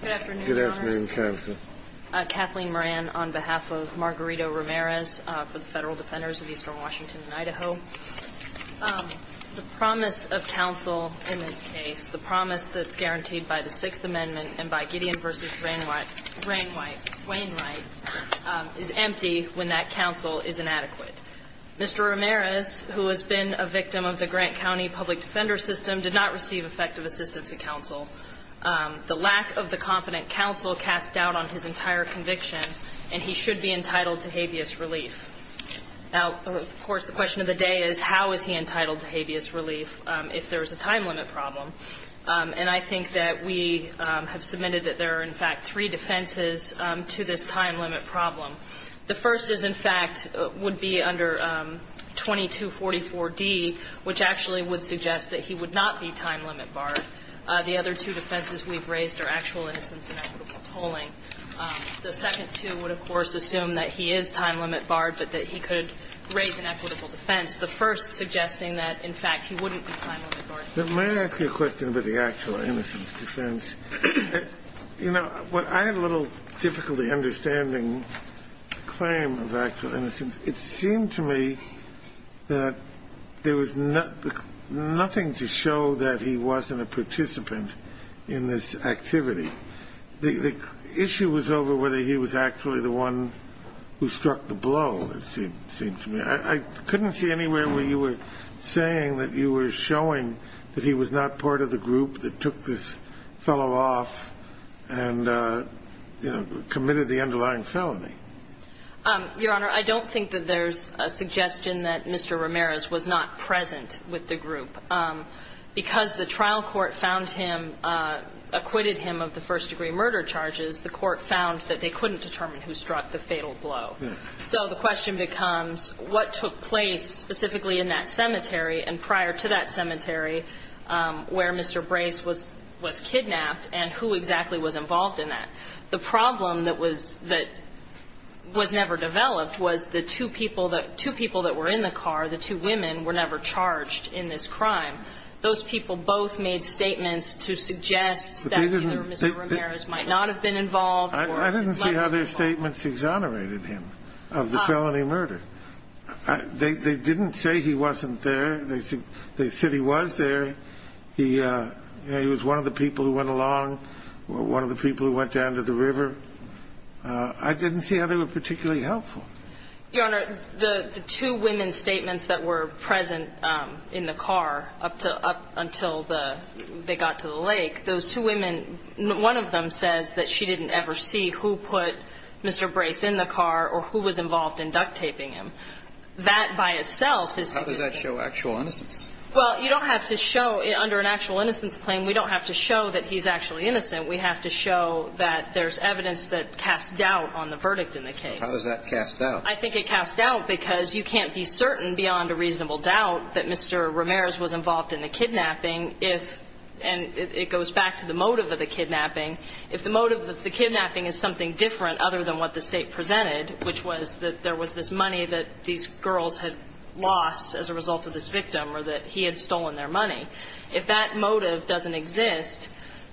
Good afternoon. Kathleen Moran on behalf of Margarito Ramirez for the Federal Defenders of Eastern Washington and Idaho. The promise of counsel in this case, the promise that's guaranteed by the Sixth Amendment and by Gideon v. Wainwright is empty when that counsel is inadequate. Mr. Ramirez, who has been a victim of the Grant County Public Defender System, did not receive effective assistance at counsel. The lack of the competent counsel cast doubt on his entire conviction, and he should be entitled to habeas relief. Now, of course, the question of the day is, how is he entitled to habeas relief if there is a time limit problem? And I think that we have submitted that there are, in fact, three defenses to this time limit problem. The first is, in fact, would be under 2244d, which actually would suggest that he would not be time limit barred. The other two defenses we've raised are actual innocence and equitable tolling. The second two would, of course, assume that he is time limit barred, but that he could raise an equitable defense. The first suggesting that, in fact, he wouldn't be time limit barred. But may I ask you a question about the actual innocence defense? You know, I had a little difficulty understanding the claim of actual innocence. It seemed to me that there was nothing to show that he wasn't a participant in this activity. The issue was over whether he was actually the one who struck the blow, it seemed to me. I couldn't see anywhere where you were saying that you were showing that he was not part of the group that took this fellow off and, you know, committed the underlying felony. Your Honor, I don't think that there's a suggestion that Mr. Ramirez was not present with the group. Because the trial court found him, acquitted him of the first degree murder charges, the court found that they couldn't determine who struck the fatal blow. So the question becomes what took place specifically in that cemetery and prior to that cemetery where Mr. Brace was kidnapped, and who exactly was involved in that? The problem that was never developed was the two people that were in the car, the two women, were never charged in this crime. Those people both made statements to suggest that either Mr. Ramirez might not have been involved or his mother was involved. I didn't see how they were particularly helpful. Your Honor, the two women's statements that were present in the car up until they got to the lake, those two women, one of them says that she didn't ever see who put Mr. Brace in the car or who put him in the car. And the other one says that she didn't see who put Mr. Brace in the car or who was involved in duct taping him. That by itself is… How does that show actual innocence? Well, you don't have to show under an actual innocence claim. We don't have to show that he's actually innocent. We have to show that there's evidence that casts doubt on the verdict in the case. How does that cast doubt? I think it casts doubt because you can't be certain beyond a reasonable doubt that Mr. Ramirez was involved in the kidnapping if – and it goes back to the motive of the kidnapping. If the motive of the kidnapping is something different other than what the State presented, which was that there was this money that these girls had lost as a result of this victim or that he had stolen their money, if that motive doesn't exist,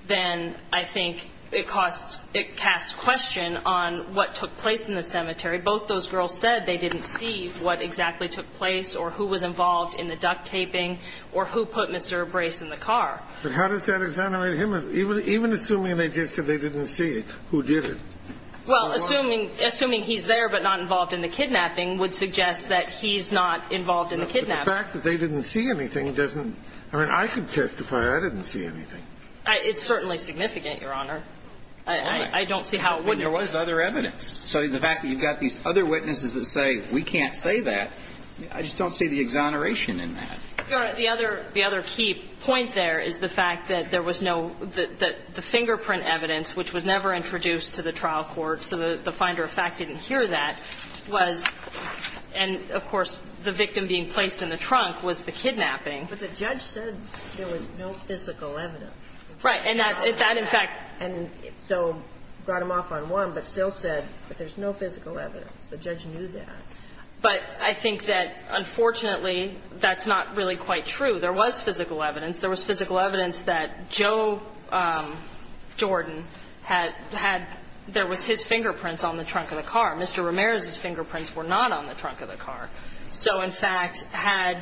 then I think it casts question on what took place in the cemetery. Both those girls said they didn't see what exactly took place or who was involved in the duct taping or who put Mr. Brace in the car. But how does that exonerate him, even assuming they just said they didn't see who did it? Well, assuming he's there but not involved in the kidnapping would suggest that he's not involved in the kidnapping. But the fact that they didn't see anything doesn't – I mean, I can testify I didn't see anything. It's certainly significant, Your Honor. I don't see how it wouldn't. And there was other evidence. So the fact that you've got these other witnesses that say, we can't say that, I just don't see the exoneration in that. Your Honor, the other key point there is the fact that there was no – that the fingerprint evidence, which was never introduced to the trial court, so the finder of fact didn't hear that, was – and, of course, the victim being placed in the trunk was the kidnapping. But the judge said there was no physical evidence. Right. And that, in fact – And so got him off on one, but still said, but there's no physical evidence. The judge knew that. But I think that, unfortunately, that's not really quite true. There was physical evidence. There was physical evidence that Joe Jordan had – had – there was his fingerprints on the trunk of the car. Mr. Ramirez's fingerprints were not on the trunk of the car. So, in fact, had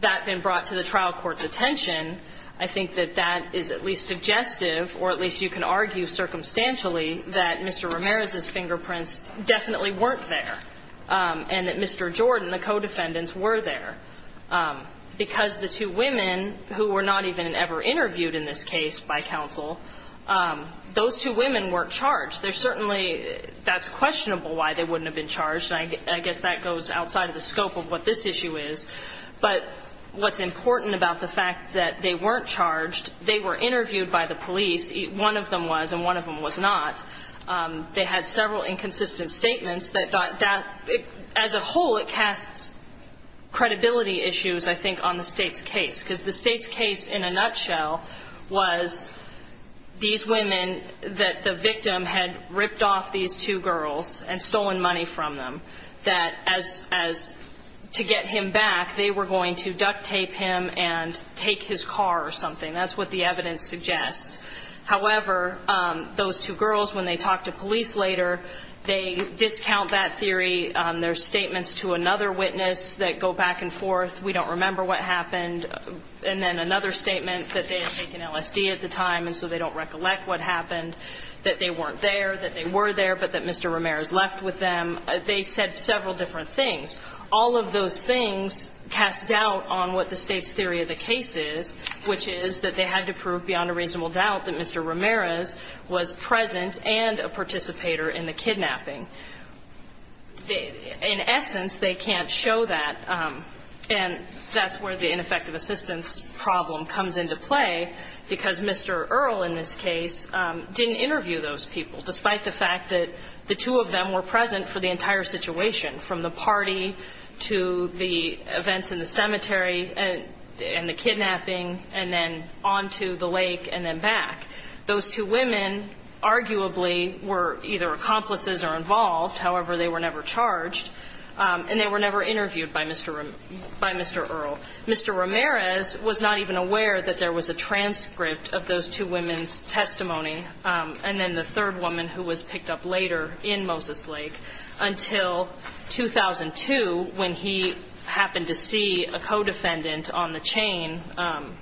that been brought to the trial court's attention, I think that that is at least suggestive, or at least you can argue circumstantially, that Mr. Ramirez's and that Mr. Jordan, the co-defendants, were there. Because the two women who were not even ever interviewed in this case by counsel, those two women weren't charged. They're certainly – that's questionable why they wouldn't have been charged, and I guess that goes outside of the scope of what this issue is. But what's important about the fact that they weren't charged, they were interviewed by the police. One of them was and one of them was not. They had several inconsistent statements that – as a whole, it casts credibility issues, I think, on the State's case. Because the State's case, in a nutshell, was these women that the victim had ripped off these two girls and stolen money from them, that as – as to get him back, they were going to duct tape him and take his car or something. That's what the evidence suggests. However, those two girls, when they talk to police later, they discount that theory. There are statements to another witness that go back and forth, we don't remember what happened. And then another statement that they had taken LSD at the time and so they don't recollect what happened, that they weren't there, that they were there, but that Mr. Ramirez left with them. They said several different things. All of those things cast doubt on what the State's theory of the case is, which is that they had to prove beyond a reasonable doubt that Mr. Ramirez was present and a participator in the kidnapping. In essence, they can't show that. And that's where the ineffective assistance problem comes into play, because Mr. Earle, in this case, didn't interview those people, despite the fact that the two of them were present for the entire situation, from the party to the events in the cemetery and the kidnapping, and then on to the lake and then back. Those two women arguably were either accomplices or involved. However, they were never charged, and they were never interviewed by Mr. Earle. Mr. Ramirez was not even aware that there was a transcript of those two women's testimony, and then the third woman who was picked up later in Moses Lake, until 2002, when he happened to see a co-defendant on the chain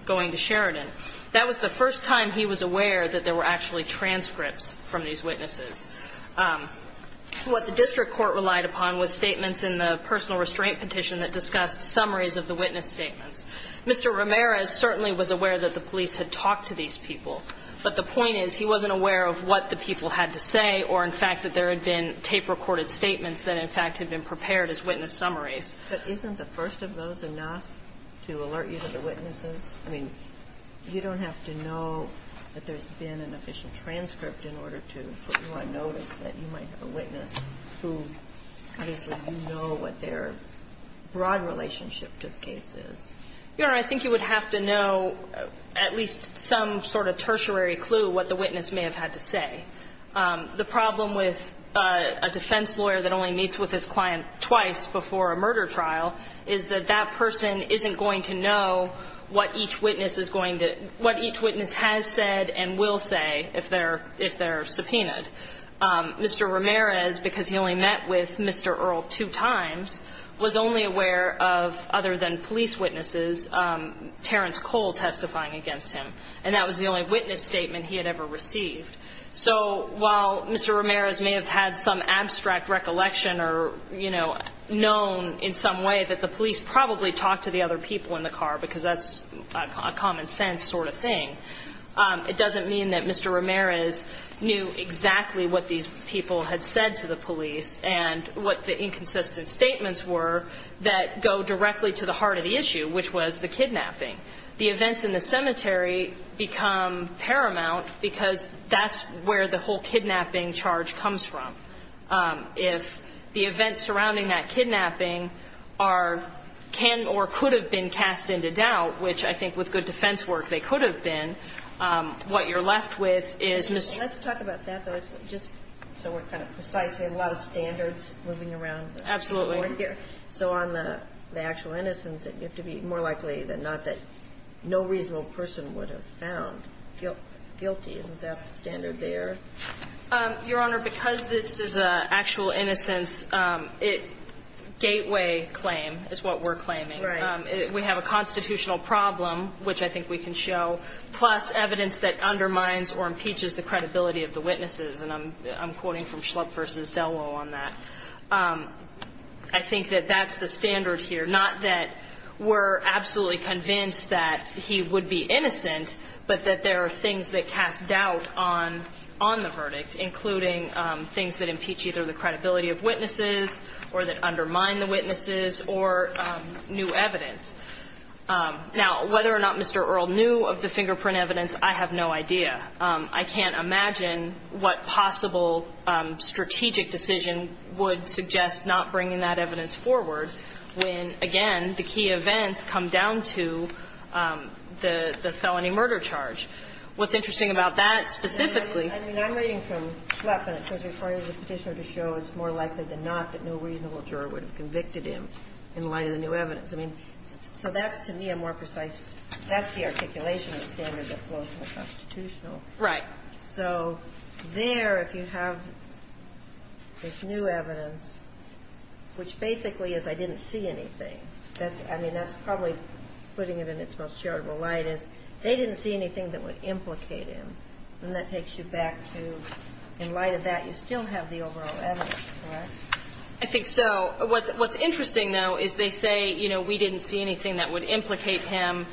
going to Sheridan. That was the first time he was aware that there were actually transcripts from these witnesses. What the district court relied upon was statements in the personal restraint petition that discussed summaries of the witness statements. Mr. Ramirez certainly was aware that the police had talked to these people, but the point is he wasn't aware of what the people had to say or, in fact, that there had been tape-recorded statements that, in fact, had been prepared as witness summaries. But isn't the first of those enough to alert you to the witnesses? I mean, you don't have to know that there's been an official transcript in order to put you on notice that you might have a witness who obviously you know what their broad relationship to the case is. Your Honor, I think you would have to know at least some sort of tertiary clue what the witness may have had to say. The problem with a defense lawyer that only meets with his client twice before a murder trial is that that person isn't going to know what each witness is going to – what each witness has said and will say if they're – if they're subpoenaed. Mr. Ramirez, because he only met with Mr. Earle two times, was only aware of, other than police witnesses, Terrence Cole testifying against him. And that was the only witness statement he had ever received. So while Mr. Ramirez may have had some abstract recollection or, you know, known in some way that the police probably talked to the other people in the car because that's a common sense sort of thing, it doesn't mean that Mr. Ramirez knew exactly what these people had said to the police and what the inconsistent statements were that go directly to the heart of the issue, which was the kidnapping. The events in the cemetery become paramount because that's where the whole kidnapping charge comes from. If the events surrounding that kidnapping are – can or could have been cast into doubt, which I think with good defense work they could have been, what you're left with is – Let's talk about that, though, just so we're kind of precise. We have a lot of standards moving around. Absolutely. So on the actual innocence, you have to be more likely than not that no reasonable person would have found guilty. Isn't that the standard there? Your Honor, because this is an actual innocence, it – gateway claim is what we're claiming. Right. We have a constitutional problem, which I think we can show, plus evidence that undermines or impeaches the credibility of the witnesses. And I'm quoting from Schlupp v. Delwell on that. I think that that's the standard here, not that we're absolutely convinced that he would be innocent, but that there are things that cast doubt on the verdict, including things that impeach either the credibility of witnesses or that undermine the witnesses or new evidence. Now, whether or not Mr. Earle knew of the fingerprint evidence, I have no idea. I can't imagine what possible strategic decision would suggest not bringing that evidence forward when, again, the key events come down to the felony murder charge. What's interesting about that specifically – I mean, I'm reading from Schlupp, and it says, Recording of the Petitioner to show it's more likely than not that no reasonable juror would have convicted him in light of the new evidence. I mean, so that's, to me, a more precise – that's the articulation of the standard that flows from the constitutional. Right. So there, if you have this new evidence, which basically is, I didn't see anything. I mean, that's probably putting it in its most charitable light is, they didn't see anything that would implicate him. And that takes you back to, in light of that, you still have the overall evidence, correct? I think so. What's interesting, though, is they say, you know, we didn't see anything that would implicate him.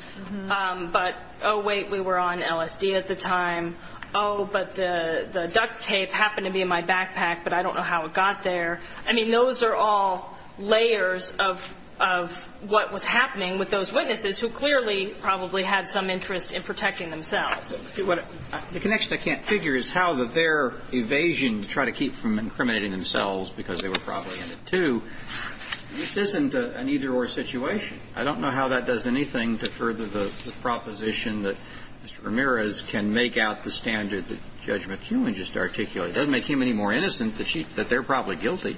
But, oh, wait, we were on LSD at the time. Oh, but the duct tape happened to be in my backpack, but I don't know how it got there. I mean, those are all layers of what was happening with those witnesses who clearly probably had some interest in protecting themselves. The connection I can't figure is how their evasion to try to keep from incriminating themselves, because they were probably in it, too. This isn't an either-or situation. I don't know how that does anything to further the proposition that Mr. Ramirez can make out the standard that Judge McKeown just articulated. It doesn't make him any more innocent that they're probably guilty.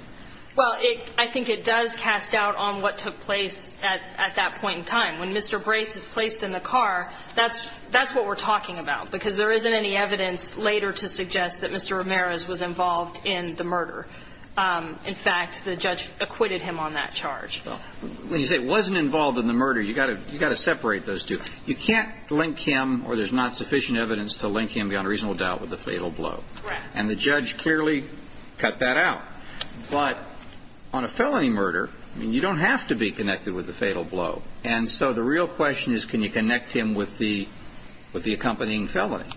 Well, I think it does cast doubt on what took place at that point in time. When Mr. Brace is placed in the car, that's what we're talking about, because there isn't any evidence later to suggest that Mr. Ramirez was involved in the murder. In fact, the judge acquitted him on that charge. When you say he wasn't involved in the murder, you've got to separate those two. You can't link him, or there's not sufficient evidence to link him, beyond reasonable doubt, with the fatal blow. Correct. And the judge clearly cut that out. But on a felony murder, you don't have to be connected with the fatal blow. And so the real question is, can you connect him with the accompanying felony?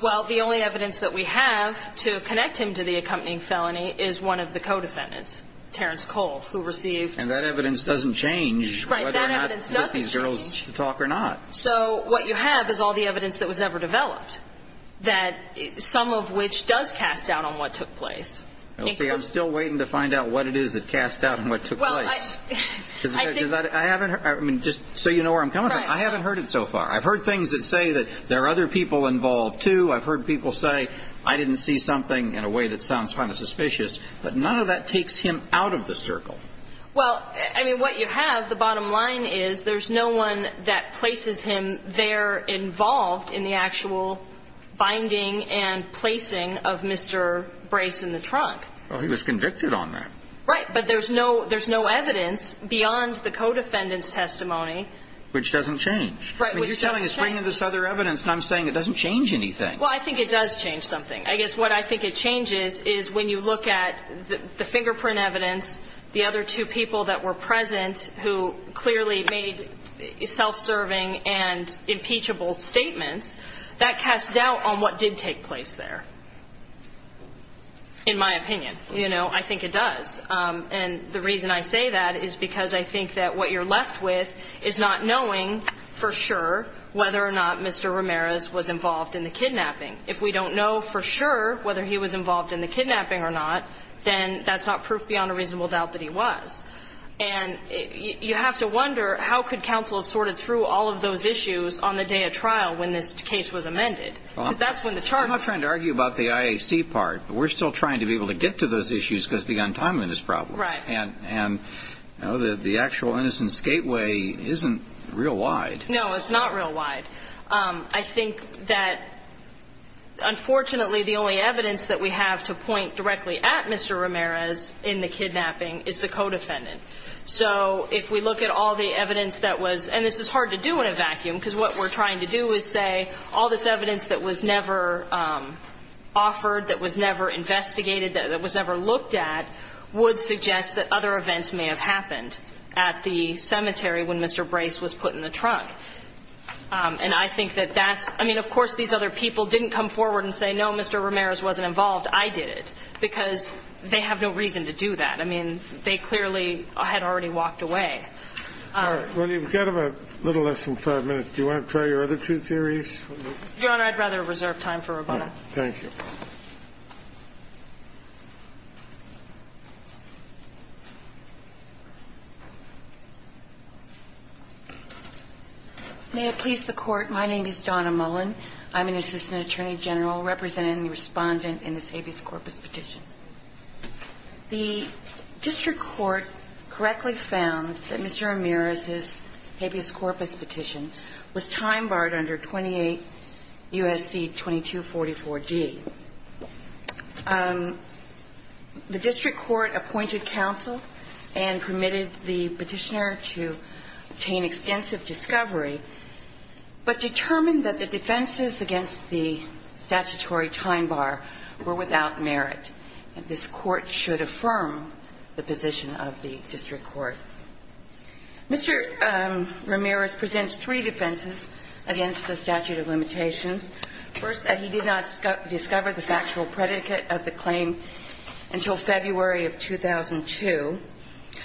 Well, the only evidence that we have to connect him to the accompanying felony is one of the co-defendants, Terrence Colt, who received. And that evidence doesn't change whether or not these girls talk or not. So what you have is all the evidence that was ever developed, some of which does cast doubt on what took place. I'm still waiting to find out what it is that cast doubt on what took place. I haven't heard. Just so you know where I'm coming from, I haven't heard it so far. I've heard things that say that there are other people involved, too. I've heard people say, I didn't see something in a way that sounds kind of suspicious. But none of that takes him out of the circle. Well, I mean, what you have, the bottom line is, there's no one that places him there involved in the actual binding and placing of Mr. Brace in the trunk. Well, he was convicted on that. Right. But there's no evidence beyond the co-defendant's testimony. Which doesn't change. Right. Which doesn't change. It's bringing this other evidence, and I'm saying it doesn't change anything. Well, I think it does change something. I guess what I think it changes is when you look at the fingerprint evidence, the other two people that were present who clearly made self-serving and impeachable statements, that cast doubt on what did take place there, in my opinion. You know, I think it does. And the reason I say that is because I think that what you're left with is not knowing for sure whether or not Mr. Ramirez was involved in the kidnapping. If we don't know for sure whether he was involved in the kidnapping or not, then that's not proof beyond a reasonable doubt that he was. And you have to wonder, how could counsel have sorted through all of those issues on the day of trial when this case was amended? Because that's when the charges were. I'm not trying to argue about the IAC part, but we're still trying to be able to get to those issues because the untimeliness problem. Right. And the actual innocent skateway isn't real wide. No, it's not real wide. I think that, unfortunately, the only evidence that we have to point directly at Mr. Ramirez in the kidnapping is the co-defendant. So if we look at all the evidence that was – and this is hard to do in a vacuum because what we're trying to do is say all this evidence that was never offered, that was never investigated, that was never looked at, would suggest that other events may have happened at the cemetery when Mr. Brace was put in the trunk. And I think that that's – I mean, of course these other people didn't come forward and say, no, Mr. Ramirez wasn't involved. I did it. Because they have no reason to do that. I mean, they clearly had already walked away. All right. Well, you've got about a little less than five minutes. Do you want to try your other two theories? Your Honor, I'd rather reserve time for Robona. Thank you. May it please the Court. My name is Donna Mullen. I'm an assistant attorney general representing the Respondent in this habeas corpus petition. The district court correctly found that Mr. Ramirez's habeas corpus petition was time barred under 28 U.S.C. 2244D. The district court appointed counsel and permitted the petitioner to obtain extensive discovery, but determined that the defenses against the statutory time bar were without merit. And this Court should affirm the position of the district court. Mr. Ramirez presents three defenses against the statute of limitations. First, that he did not discover the factual predicate of the claim until February of 2002.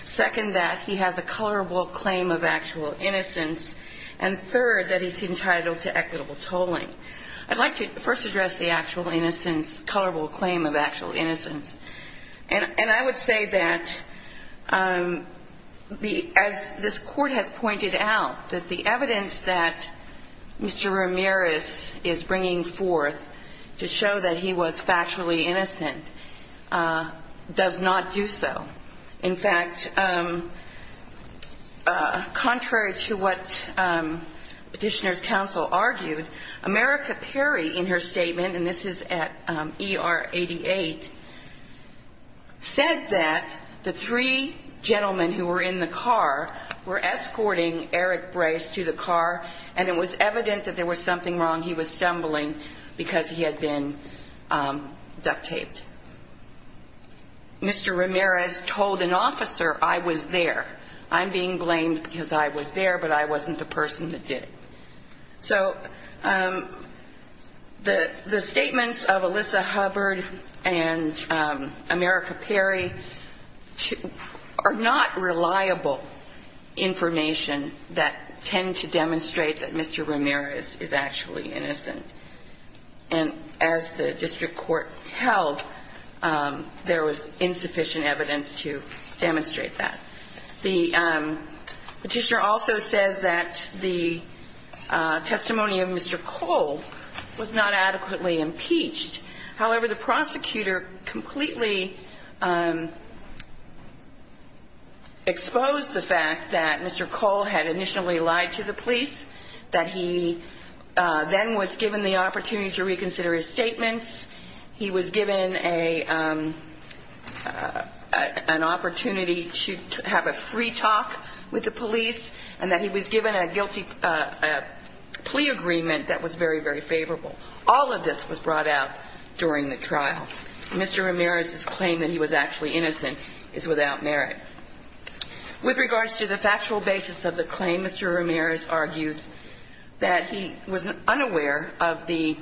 Second, that he has a colorable claim of actual innocence. And third, that he's entitled to equitable tolling. I'd like to first address the actual innocence, colorable claim of actual innocence. And I would say that as this Court has pointed out, that the evidence that Mr. Ramirez is bringing forth to show that he was factually innocent does not do so. In fact, contrary to what petitioner's counsel argued, America Perry in her 1988 said that the three gentlemen who were in the car were escorting Eric Brace to the car, and it was evident that there was something wrong. He was stumbling because he had been duct taped. Mr. Ramirez told an officer, I was there. I'm being blamed because I was there, but I wasn't the person that did it. So the statements of Alyssa Hubbard and America Perry are not reliable information that tend to demonstrate that Mr. Ramirez is actually innocent. And as the district court held, there was insufficient evidence to demonstrate that. The petitioner also says that the testimony of Mr. Cole was not adequately impeached. However, the prosecutor completely exposed the fact that Mr. Cole had initially lied to the police, that he then was given the opportunity to reconsider his statements. He was given a an opportunity to have his testimony reconsidered. He was given the opportunity to have a free talk with the police, and that he was given a guilty plea agreement that was very, very favorable. All of this was brought out during the trial. Mr. Ramirez's claim that he was actually innocent is without merit. With regards to the factual basis of the claim, Mr. Ramirez argues that he was unaware of the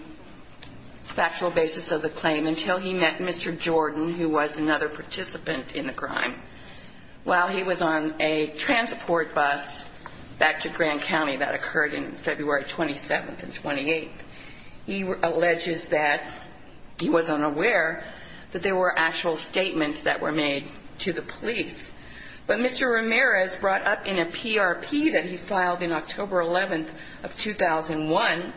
factual basis of the claim until he met Mr. Cole, who was on a transport bus back to Grand County that occurred on February 27th and 28th. He alleges that he was unaware that there were actual statements that were made to the police. But Mr. Ramirez brought up in a PRP that he filed in October 11th of 2001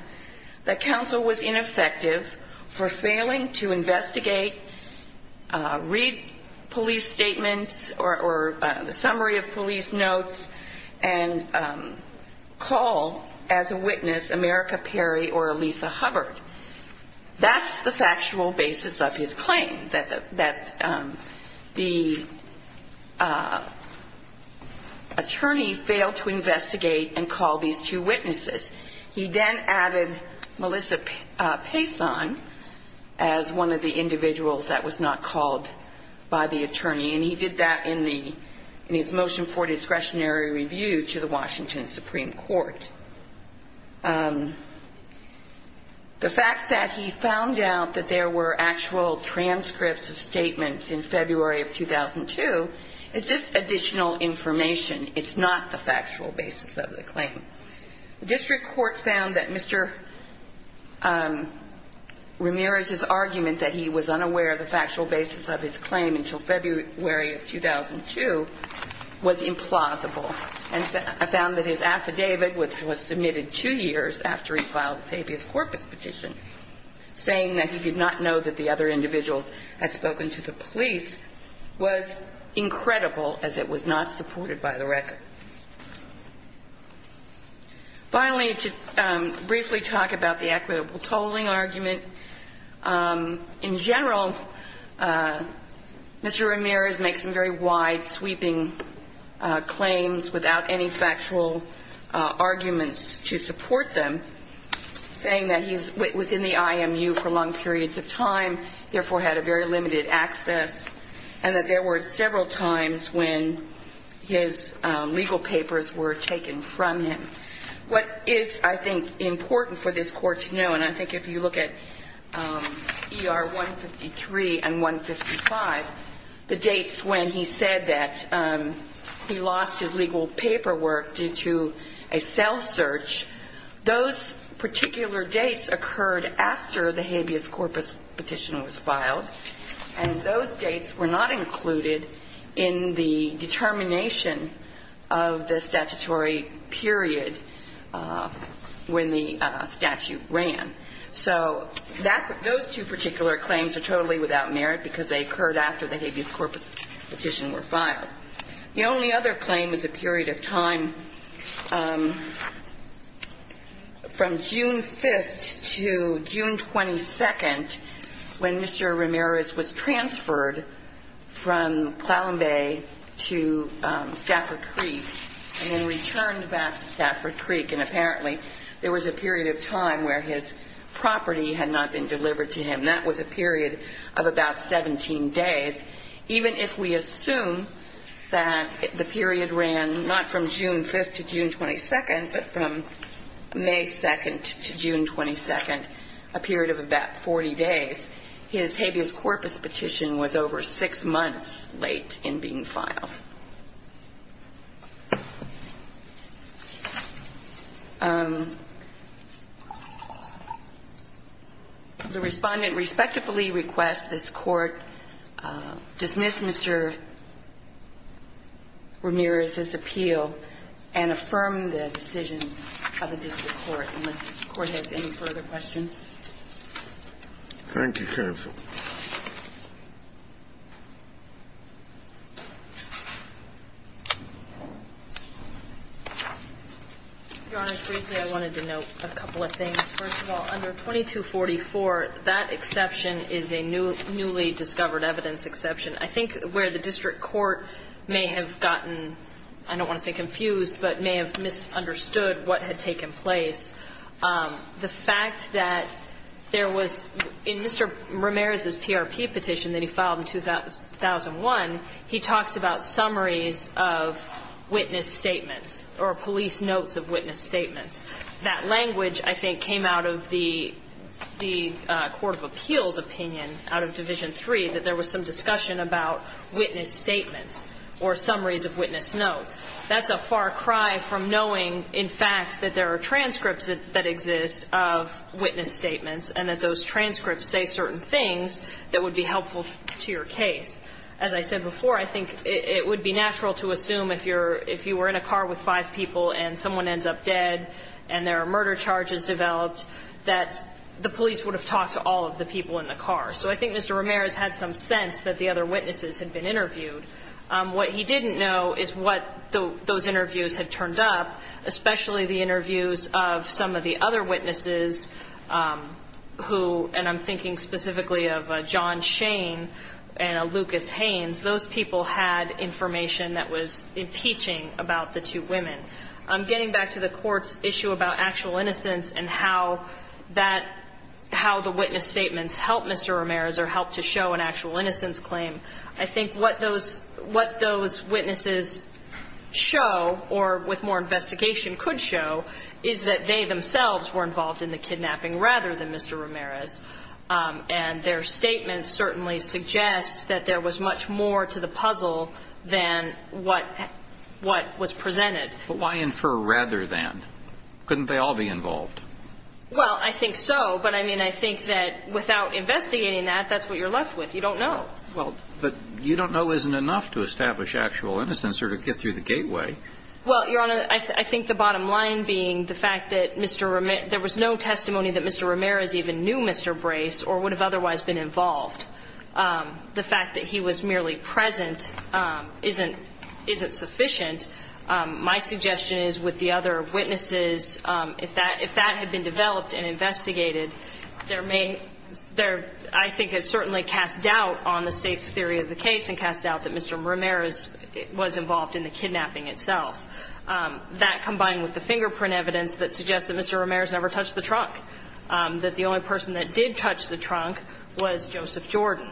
that counsel was ineffective for failing to make a summary of police notes and call as a witness America Perry or Elisa Hubbard. That's the factual basis of his claim, that the attorney failed to investigate and call these two witnesses. He then added Melissa Payson as one of the individuals that was not called by the attorney. And he did that in his motion for discretionary review to the Washington Supreme Court. The fact that he found out that there were actual transcripts of statements in February of 2002 is just additional information. It's not the factual basis of the claim. The district court found that Mr. Ramirez's argument that he was unaware of the factual basis of his claim until February 27th of 2002 was implausible, and found that his affidavit, which was submitted two years after he filed Savious Corpus petition, saying that he did not know that the other individuals had spoken to the police, was incredible, as it was not supported by the record. Finally, to briefly talk about the equitable tolling argument, in general, Mr. Ramirez did not have any evidence that he was in the I.M.U. for long periods of time, and therefore had a very limited access, and that there were several times when his legal papers were taken from him. What is, I think, important for this Court to know, and I think if you look at ER 153 and 155, the dates to which these claims are totally without merit, is when he said that he lost his legal paperwork due to a cell search. Those particular dates occurred after the Habeas Corpus petition was filed, and those dates were not included in the determination of the statutory period when the statute ran. So those two particular claims are totally without merit, because they occurred after the Habeas Corpus petition was filed. The only other claim is a period of time from June 5th to June 22nd, when Mr. Ramirez was transferred from Clallam Bay to Stafford Creek, and then returned back to Stafford Creek, and apparently there was a period of time where his property had not been delivered to So I would assume that the period ran not from June 5th to June 22nd, but from May 2nd to June 22nd, a period of about 40 days. His Habeas Corpus petition was over six months late in being filed. The Respondent respectfully requests this Court dismiss Mr. Ramirez's appeal and affirm the decision of the District Court. Unless the Court has any further questions. Your Honor, briefly, I wanted to note a couple of things. First of all, under 2244, that exception is a newly discovered evidence exception. I think where the District Court may have gotten, I don't want to say confused, but may have misunderstood what had taken place, the fact that there was, in Mr. Ramirez's PRP petition that he filed in 2001, he talks about some of the evidence that was found in the summaries of witness statements, or police notes of witness statements. That language, I think, came out of the Court of Appeals opinion out of Division III, that there was some discussion about witness statements or summaries of witness notes. That's a far cry from knowing, in fact, that there are transcripts that exist of witness statements, and that those transcripts say certain things that would be helpful to your case. As I said before, I think it would be natural to assume if you were in a car with five people and someone ends up dead, and there are murder charges developed, that the police would have talked to all of the people in the car. So I think Mr. Ramirez had some sense that the other witnesses had been interviewed. What he didn't know is what those interviews had turned up, especially the interviews of some of the other witnesses who, and I'm thinking specifically of John Shane and Lucas Haynes, those people had information that was impeaching about the two women. Getting back to the Court's issue about actual innocence and how the witness statements helped Mr. Ramirez or helped to show an actual innocence claim, I think what those witnesses show, or with more investigation could show, is that they themselves were involved in the case, and their statements certainly suggest that there was much more to the puzzle than what was presented. But why infer rather than? Couldn't they all be involved? Well, I think so, but, I mean, I think that without investigating that, that's what you're left with. You don't know. Well, but you don't know isn't enough to establish actual innocence or to get through the gateway. Well, Your Honor, I think the bottom line being the fact that there was no testimony that Mr. Ramirez even knew Mr. Brace or would have otherwise been involved, the fact that he was merely present isn't sufficient. My suggestion is with the other witnesses, if that had been developed and investigated, there may, there, I think it certainly casts doubt on the State's theory of the case and casts doubt that Mr. Ramirez was involved in the kidnapping itself. That combined with the fingerprint evidence that suggests that Mr. Ramirez never touched the trunk, that the only person that did touch the trunk was Joseph Jordan.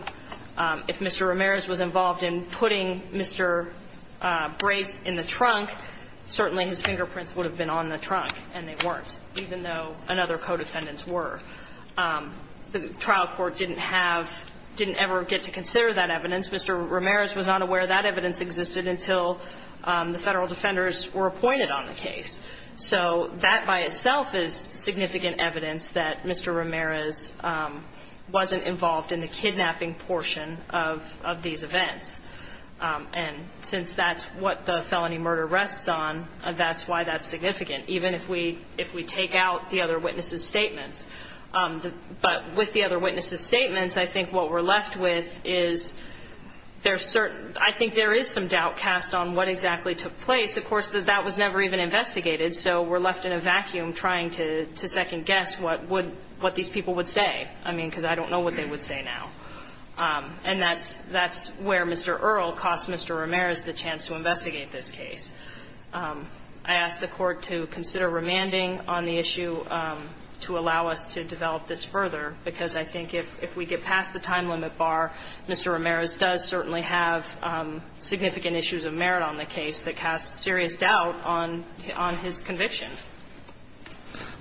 If Mr. Ramirez was involved in putting Mr. Brace in the trunk, certainly his fingerprints would have been on the trunk, and they weren't, even though another co-defendants were. The trial court didn't have, didn't ever get to consider that evidence. Mr. Ramirez was not aware that evidence existed until the Federal defenders were appointed on the case. So that by itself is significant evidence that Mr. Ramirez wasn't involved in the kidnapping portion of these events. And since that's what the felony murder rests on, that's why that's significant, even if we take out the other witnesses' statements. But with the other witnesses' statements, I think what we're left with is there's certain, I think there is some doubt cast on what exactly took place. Of course, that was never even investigated, so we're left in a vacuum trying to second-guess what would these people would say. I mean, because I don't know what they would say now. And that's where Mr. Earle cost Mr. Ramirez the chance to investigate this case. I ask the Court to consider remanding on the issue to allow us to develop this further, because I think if we get past the time limit bar, Mr. Ramirez does certainly have significant issues of merit on the case that cast serious doubt on his conviction.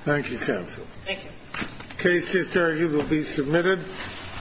Thank you. Thank you, counsel. Thank you. The case to start will be submitted.